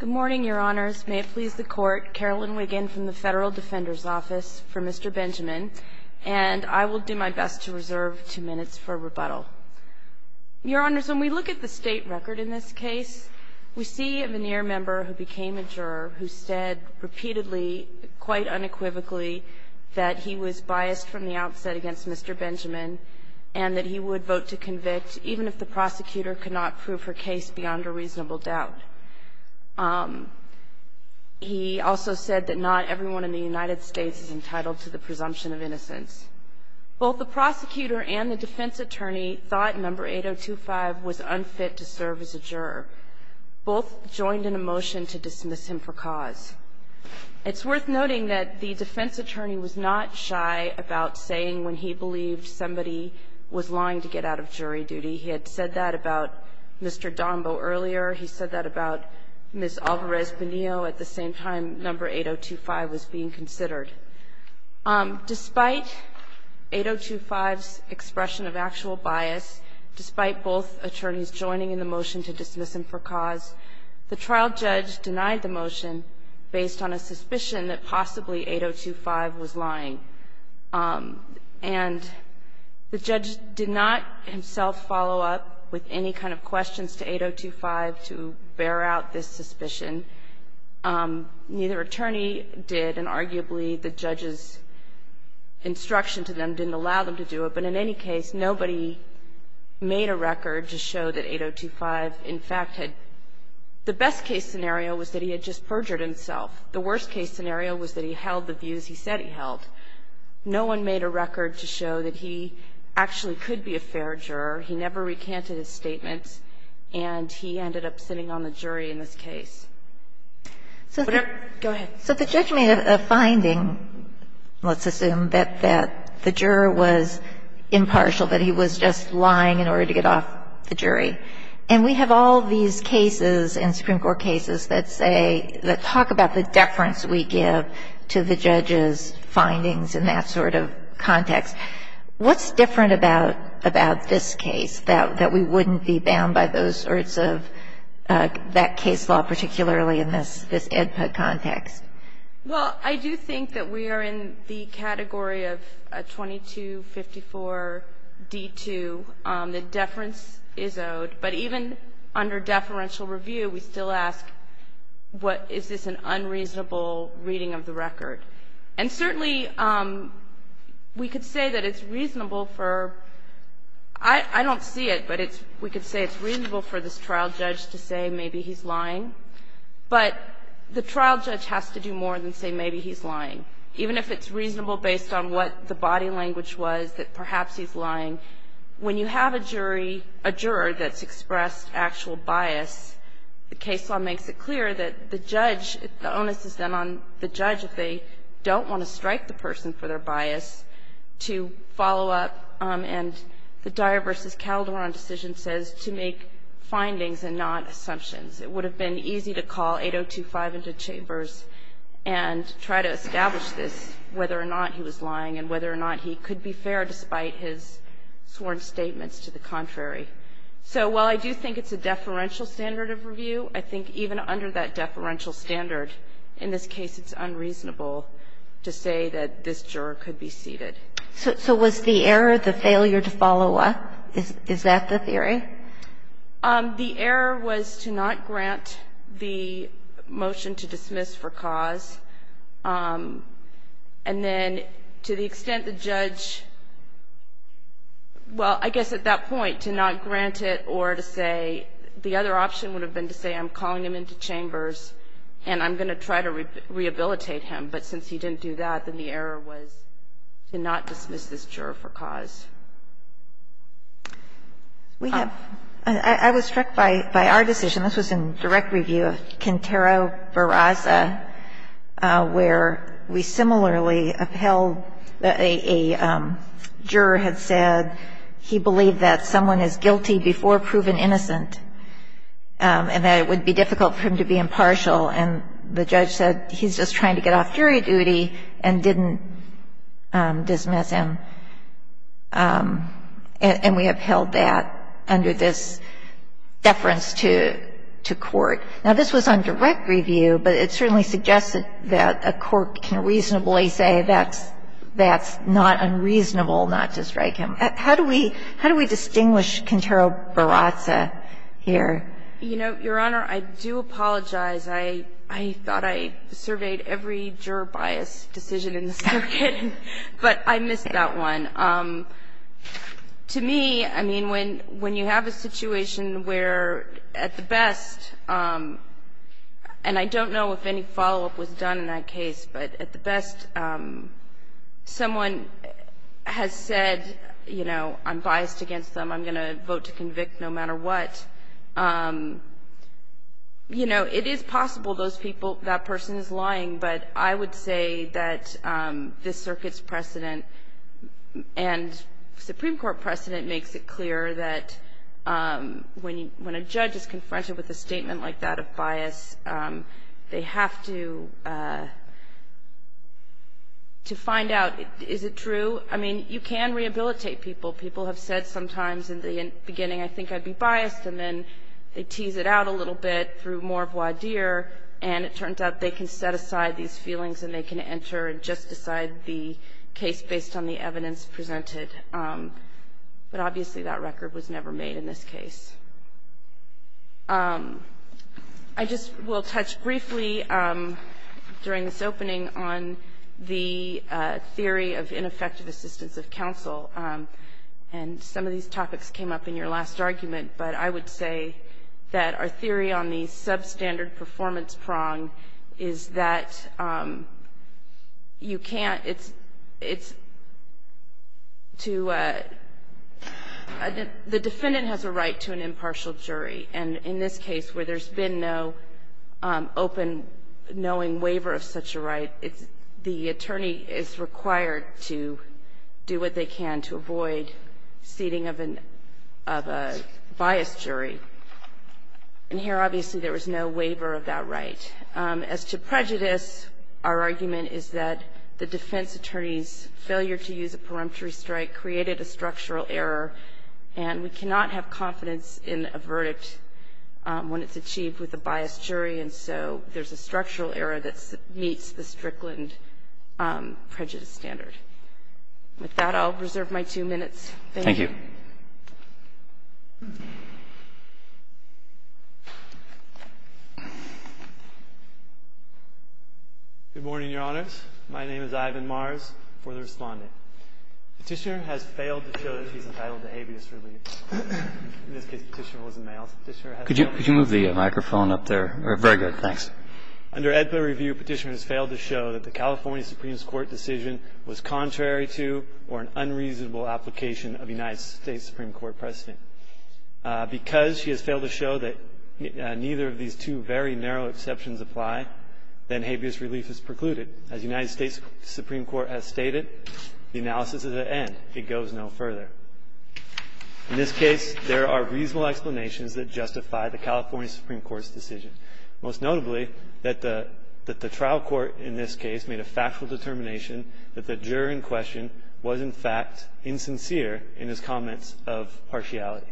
Good morning, Your Honors. May it please the Court, Carolyn Wiggin from the Federal Defender's Office for Mr. Benjamin, and I will do my best to reserve two minutes for rebuttal. Your Honors, when we look at the state record in this case, we see a veneer member who became a juror who said repeatedly, quite unequivocally, that he was biased from the outset against Mr. Benjamin and that he would vote to convict even if the prosecutor could not prove her case beyond a reasonable doubt. He also said that not everyone in the United States is entitled to the presumption of innocence. Both the prosecutor and the defense attorney thought member 8025 was unfit to serve as a juror. Both joined in a motion to dismiss him for cause. It's worth noting that the defense attorney was not shy about saying when he believed somebody was lying to get out of jury duty. He had said that about Mr. Donbo earlier. He said that about Ms. Alvarez-Bonillo at the same time number 8025 was being considered. Despite 8025's expression of actual bias, despite both attorneys joining in the motion to dismiss him for cause, the trial judge denied the motion based on a suspicion that possibly 8025 was lying. And the judge did not himself follow up with any kind of questions to 8025 to bear out this suspicion. Neither attorney did, and arguably the judge's instruction to them didn't allow them to do it, but in any case, nobody made a record to show that 8025, in fact, had the The best case scenario was that he had just perjured himself. The worst case scenario was that he held the views he said he held. No one made a record to show that he actually could be a fair juror. He never recanted his statements, and he ended up sitting on the jury in this case. Go ahead. So the judge made a finding, let's assume, that the juror was impartial, that he was just lying in order to get off the jury. And we have all these cases in Supreme Court cases that say, that talk about the deference we give to the judge's findings in that sort of context. What's different about this case, that we wouldn't be bound by those sorts of, that case law, particularly in this EDPA context? Well, I do think that we are in the category of 2254-D2. The deference is owed. But even under deferential review, we still ask, is this an unreasonable reading of the record? And certainly, we could say that it's reasonable for – I don't see it, but we could say it's reasonable for this trial judge to say maybe he's lying. But the trial judge has to do more than say maybe he's lying. Even if it's reasonable based on what the body language was, that perhaps he's lying, when you have a jury, a juror, that's expressed actual bias, the case law makes it clear that the judge, the onus is then on the judge, if they don't want to strike the person for their bias, to follow up. And the Dyer v. Calderon decision says to make findings and not assumptions. It would have been easy to call 802.5 into chambers and try to establish this, whether or not he was lying and whether or not he could be fair despite his sworn statements to the contrary. So while I do think it's a deferential standard of review, I think even under that deferential standard, in this case, it's unreasonable to say that this juror could be seated. So was the error the failure to follow up? Is that the theory? The error was to not grant the motion to dismiss for cause. And then to the extent the judge, well, I guess at that point, to not grant it or to say the other option would have been to say I'm calling him into chambers and I'm going to try to rehabilitate him, but since he didn't do that, then the error was to not dismiss this juror for cause. We have — I was struck by our decision. This was in direct review of Quintero-Varaza, where we similarly upheld that a juror had said he believed that someone is guilty before proven innocent and that it would be difficult for him to be impartial. And the judge said he's just trying to get off jury duty and didn't dismiss him. And we upheld that under this deference to court. Now, this was on direct review, but it certainly suggested that a court can reasonably say that's not unreasonable not to strike him. How do we distinguish Quintero-Varaza here? You know, Your Honor, I do apologize. I thought I surveyed every juror bias decision in the circuit, but I missed that one. To me, I mean, when you have a situation where, at the best, and I don't know if any follow-up was done in that case, but at the best, someone has said, you know, I'm biased against them, I'm going to vote to convict no matter what. You know, it is possible those people, that person is lying, but I would say that this circuit's precedent and Supreme Court precedent makes it clear that when a judge is confronted with a statement like that of bias, they have to find out, is it true? I mean, you can rehabilitate people. People have said sometimes in the beginning, I think I'd be biased, and then they tease it out a little bit through more voir dire, and it turns out they can set aside these feelings and they can enter and just decide the case based on the evidence presented. But obviously, that record was never made in this case. I just will touch briefly during this opening on the theory of ineffective assistance of counsel, and some of these topics came up in your last argument, but I would say that our theory on the substandard performance prong is that you can't, it's too, the defendant has a right to an impartial jury, and in this case where there's been no open knowing waiver of such a right, the attorney is required to do what they can to avoid seating of a biased jury. And here, obviously, there was no waiver of that right. As to prejudice, our argument is that the defense attorney's failure to use a preemptory strike created a structural error, and we cannot have confidence in a verdict when it's achieved with a biased jury, and so there's a structural error that meets the standard. With that, I'll reserve my two minutes. Thank you. Thank you. Good morning, Your Honors. My name is Ivan Mars, for the respondent. Petitioner has failed to show that he's entitled to habeas relief. In this case, Petitioner was a male. Could you move the microphone up there? Very good. Thanks. Under AEDPA review, Petitioner has failed to show that the California Supreme Court decision was contrary to or an unreasonable application of United States Supreme Court precedent. Because she has failed to show that neither of these two very narrow exceptions apply, then habeas relief is precluded. As United States Supreme Court has stated, the analysis is at end. It goes no further. In this case, there are reasonable explanations that justify the California Supreme Court's decision, most notably that the trial court in this case made a factual determination that the juror in question was, in fact, insincere in his comments of partiality.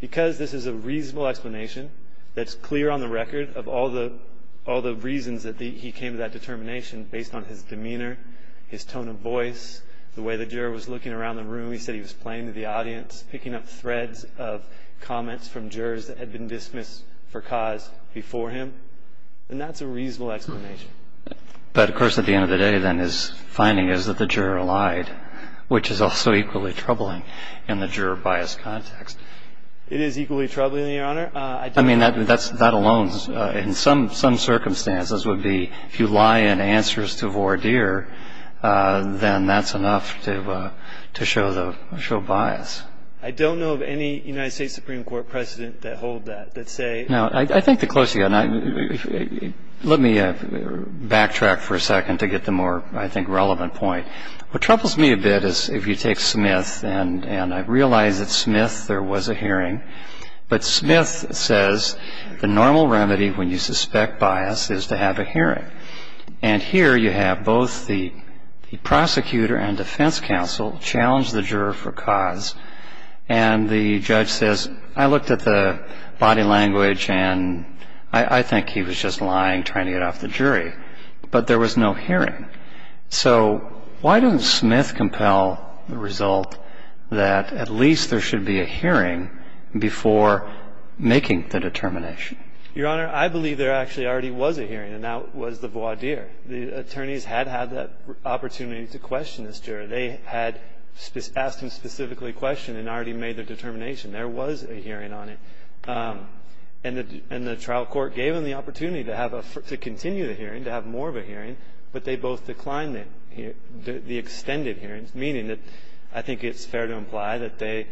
Because this is a reasonable explanation that's clear on the record of all the reasons that he came to that determination based on his demeanor, his tone of speech, his playing to the audience, picking up threads of comments from jurors that had been dismissed for cause before him. And that's a reasonable explanation. But, of course, at the end of the day, then, his finding is that the juror lied, which is also equally troubling in the juror bias context. It is equally troubling, Your Honor. I mean, that alone, in some circumstances, would be if you lie in answers to And I don't know of any case in which the jury is so biased. I don't know of any United States Supreme Court precedent that hold that, that say No. I think the closer you get, and let me backtrack for a second to get the more, I think, relevant point. What troubles me a bit is if you take Smith, and I realize that Smith, there was a hearing. But Smith says the normal remedy when you suspect bias is to have a hearing. And here you have both the prosecutor and defense counsel challenge the juror for cause. And the judge says, I looked at the body language and I think he was just lying, trying to get off the jury. But there was no hearing. So why doesn't Smith compel the result that at least there should be a hearing before making the determination? Your Honor, I believe there actually already was a hearing. And that was the voir dire. The attorneys had had that opportunity to question this juror. They had asked him specifically a question and already made their determination. There was a hearing on it. And the trial court gave them the opportunity to continue the hearing, to have more of a hearing. But they both declined the extended hearings, meaning that I think it's fair to imply that they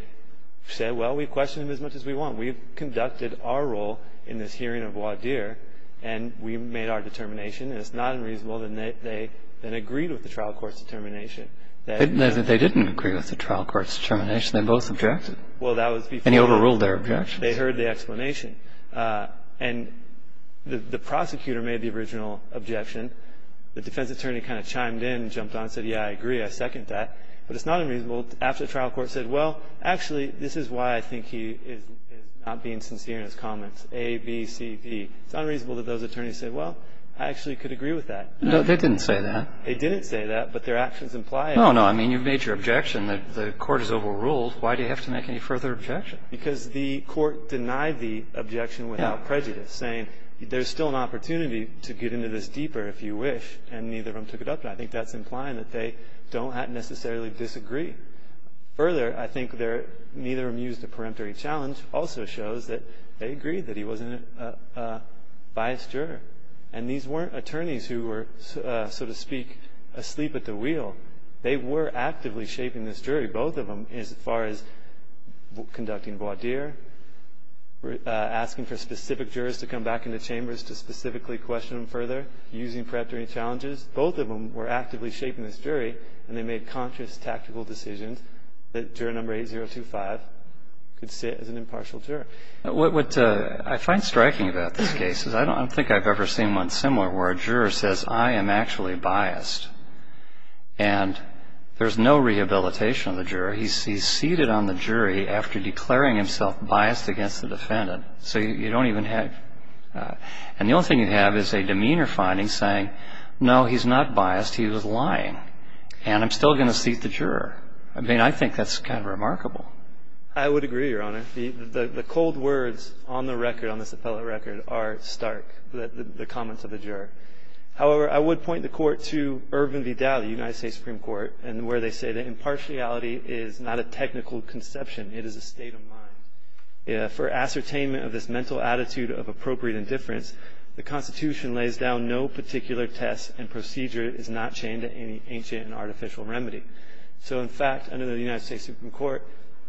said, Well, we questioned him as much as we want. We've conducted our role in this hearing of voir dire. And we made our determination. And it's not unreasonable that they then agreed with the trial court's determination. They didn't agree with the trial court's determination. They both objected. And he overruled their objections. They heard the explanation. And the prosecutor made the original objection. The defense attorney kind of chimed in and jumped on and said, Yeah, I agree. I second that. But it's not unreasonable. So after the trial court said, Well, actually, this is why I think he is not being sincere in his comments, A, B, C, D. It's unreasonable that those attorneys said, Well, I actually could agree with that. They didn't say that. They didn't say that. But their actions imply it. No, no. I mean, you've made your objection. The Court has overruled. Why do you have to make any further objection? Because the Court denied the objection without prejudice, saying there's still an opportunity to get into this deeper if you wish. And neither of them took it up. I think that's implying that they don't necessarily disagree. Further, I think neither of them used a peremptory challenge. It also shows that they agreed that he wasn't a biased juror. And these weren't attorneys who were, so to speak, asleep at the wheel. They were actively shaping this jury, both of them, as far as conducting voir dire, asking for specific jurors to come back into chambers to specifically question them further, using peremptory challenges. Both of them were actively shaping this jury, and they made conscious, tactical decisions that juror number 8025 could sit as an impartial juror. What I find striking about this case is I don't think I've ever seen one similar, where a juror says, I am actually biased. And there's no rehabilitation of the juror. He's seated on the jury after declaring himself biased against the defendant. So you don't even have – and the only thing you have is a demeanor finding saying, no, he's not biased, he was lying, and I'm still going to seat the juror. I mean, I think that's kind of remarkable. I would agree, Your Honor. The cold words on the record, on this appellate record, are stark, the comments of the juror. However, I would point the Court to Irvin Vidal, the United States Supreme Court, and where they say that impartiality is not a technical conception, it is a state of mind. For ascertainment of this mental attitude of appropriate indifference, the Constitution lays down no particular test and procedure is not chained to any ancient and artificial remedy. So, in fact, under the United States Supreme Court,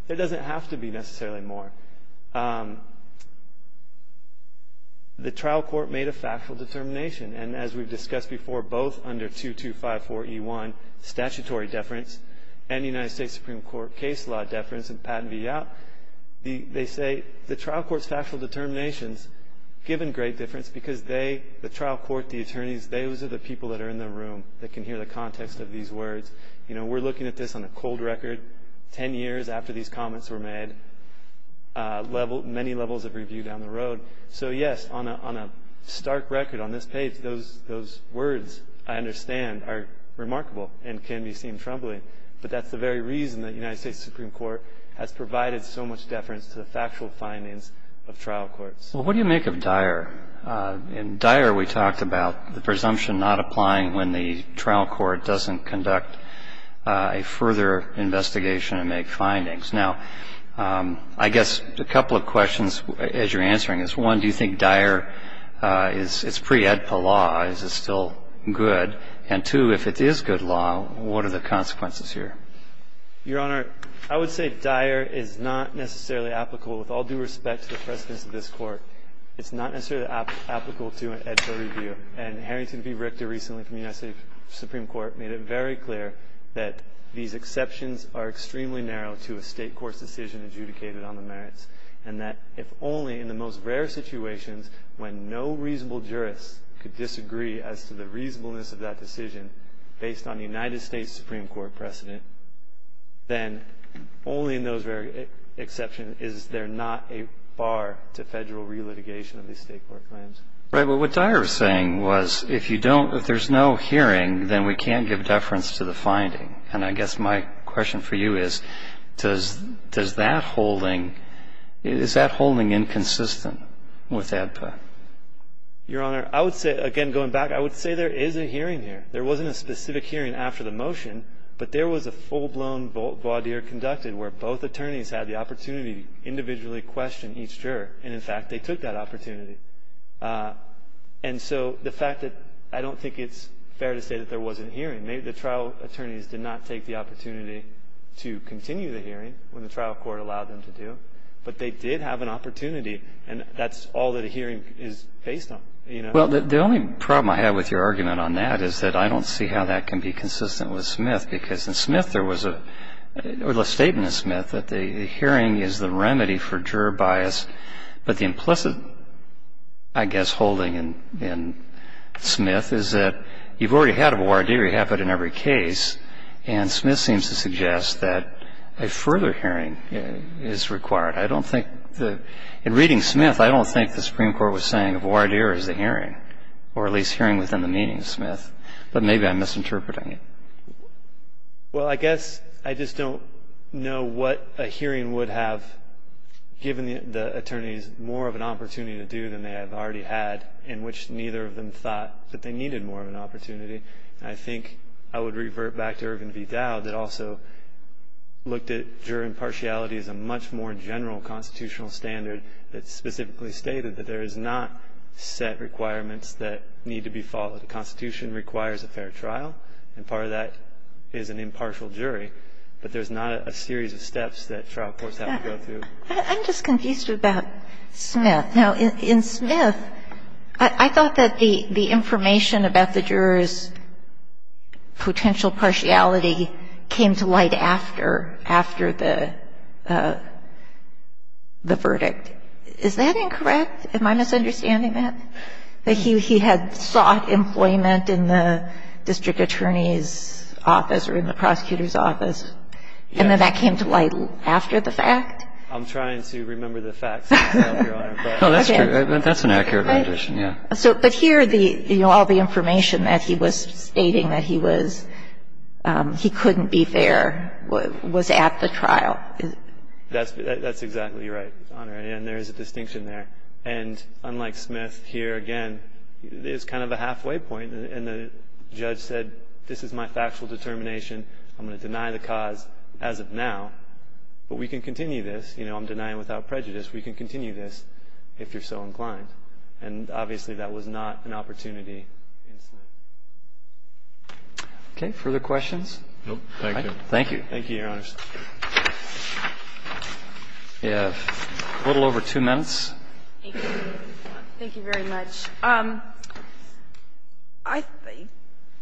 there doesn't have to be necessarily more. The trial court made a factual determination, and as we've discussed before, both under 2254E1, statutory deference, and the United States Supreme Court case law deference in Patton v. Yapp, they say the trial court's factual determinations, given great difference, because they, the trial court, the attorneys, those are the people that are in the room that can hear the context of these words. You know, we're looking at this on a cold record, 10 years after these comments were made, many levels of review down the road. So, yes, on a stark record on this page, those words, I understand, are remarkable and can be seen troubling. But that's the very reason the United States Supreme Court has provided so much deference to the factual findings of trial courts. Well, what do you make of Dyer? In Dyer, we talked about the presumption not applying when the trial court doesn't conduct a further investigation and make findings. Now, I guess a couple of questions as you're answering this. One, do you think Dyer is, it's pre-AEDPA law, is it still good? And two, if it is good law, what are the consequences here? Your Honor, I would say Dyer is not necessarily applicable with all due respect to the precedence of this Court. It's not necessarily applicable to an AEDPA review. And Harrington v. Richter recently from the United States Supreme Court made it very clear that these exceptions are extremely narrow to a state court's decision adjudicated on the merits, and that if only in the most rare situations when no reasonable jurist could disagree as to the reasonableness of that decision based on the United States Supreme Court precedent, then only in those rare exceptions is there not a bar to federal relitigation of these state court claims. Right. But what Dyer was saying was if you don't, if there's no hearing, then we can't give deference to the finding. And I guess my question for you is, does that holding, is that holding inconsistent with AEDPA? Your Honor, I would say, again, going back, I would say there is a hearing here. There wasn't a specific hearing after the motion, but there was a full-blown voir dire conducted where both attorneys had the opportunity to individually question each juror. And, in fact, they took that opportunity. And so the fact that I don't think it's fair to say that there wasn't a hearing. The trial attorneys did not take the opportunity to continue the hearing when the trial court allowed them to do, but they did have an opportunity. And that's all that a hearing is based on, you know. Well, the only problem I have with your argument on that is that I don't see how that can be consistent with Smith, because in Smith there was a statement in Smith that the hearing is the remedy for juror bias. But the implicit, I guess, holding in Smith is that you've already had a voir dire happen in every case, and Smith seems to suggest that a further hearing is required. I don't think the – in reading Smith, I don't think the Supreme Court was saying voir dire is the hearing, or at least hearing within the meaning of Smith. But maybe I'm misinterpreting it. Well, I guess I just don't know what a hearing would have given the attorneys more of an opportunity to do than they have already had, in which neither of them thought that they needed more of an opportunity. And I think I would revert back to Irvin v. Dowd that also looked at juror impartiality as a much more general constitutional standard that specifically stated that there is not set requirements that need to be followed. The Constitution requires a fair trial, and part of that is an impartial jury. But there's not a series of steps that trial courts have to go through. I'm just confused about Smith. Now, in Smith, I thought that the information about the jurors' potential partiality came to light after the verdict. Is that incorrect? Am I misunderstanding that? That he had sought employment in the district attorney's office or in the prosecutor's office, and then that came to light after the fact? I'm trying to remember the facts, Your Honor. No, that's true. That's an accurate rendition, yeah. But here, all the information that he was stating that he couldn't be fair was at the trial. That's exactly right, Your Honor, and there is a distinction there. And unlike Smith, here, again, it's kind of a halfway point. And the judge said, this is my factual determination. I'm going to deny the cause as of now, but we can continue this. I'm denying without prejudice. We can continue this if you're so inclined. And obviously, that was not an opportunity in Smith. Okay. Further questions? No. Thank you. Thank you. Thank you, Your Honor. We have a little over two minutes. Thank you. Thank you very much.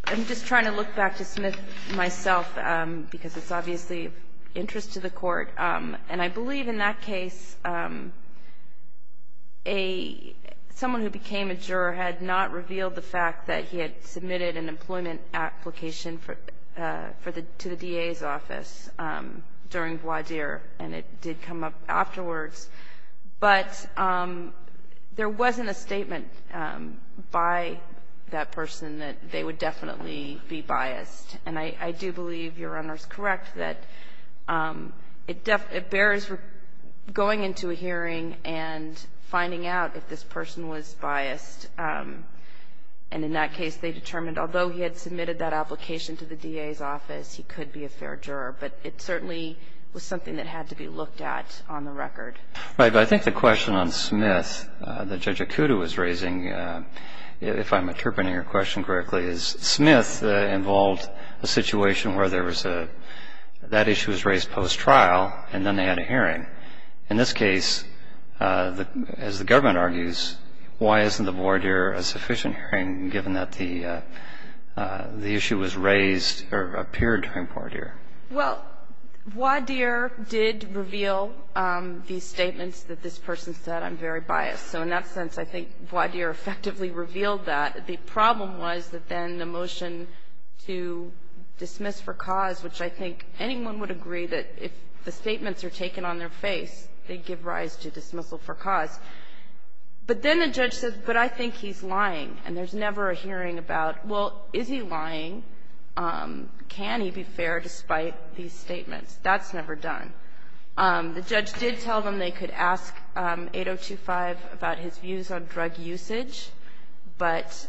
I'm just trying to look back to Smith myself because it's obviously of interest to the Court. And I believe in that case, someone who became a juror had not revealed the fact that he had submitted an employment application to the DA's office during voir dire, and it did come up afterwards. But there wasn't a statement by that person that they would definitely be biased. And I do believe Your Honor is correct that it bears going into a hearing and finding out if this person was biased. And in that case, they determined, although he had submitted that application to the DA's office, he could be a fair juror. But it certainly was something that had to be looked at on the record. Right. But I think the question on Smith that Judge Akuta was raising, if I'm interpreting your question correctly, is Smith involved a situation where there was a, that issue was raised post-trial and then they had a hearing. In this case, as the government argues, why isn't the voir dire a sufficient hearing given that the issue was raised or appeared during voir dire? Well, voir dire did reveal these statements that this person said, I'm very biased. So in that sense, I think voir dire effectively revealed that. The problem was that then the motion to dismiss for cause, which I think anyone would agree that if the statements are taken on their face, they give rise to dismissal for cause. But then the judge says, but I think he's lying. And there's never a hearing about, well, is he lying? Can he be fair despite these statements? That's never done. The judge did tell them they could ask 8025 about his views on drug usage. But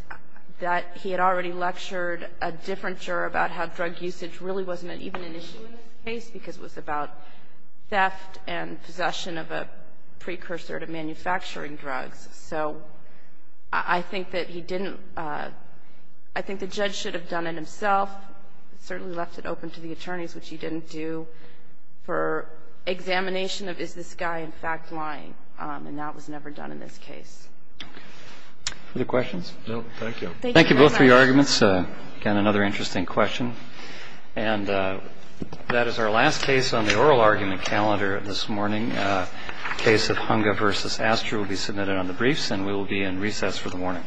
that he had already lectured a different juror about how drug usage really wasn't even an issue in this case because it was about theft and possession of a precursor to manufacturing drugs. So I think that he didn't, I think the judge should have done it himself, certainly left it open to the attorneys, which he didn't do, for examination of is this guy in fact lying. And that was never done in this case. Other questions? No, thank you. Thank you both for your arguments. Again, another interesting question. And that is our last case on the oral argument calendar this morning. The case of Hunga v. Astor will be submitted on the briefs, and we will be in recess for the morning. Good morning.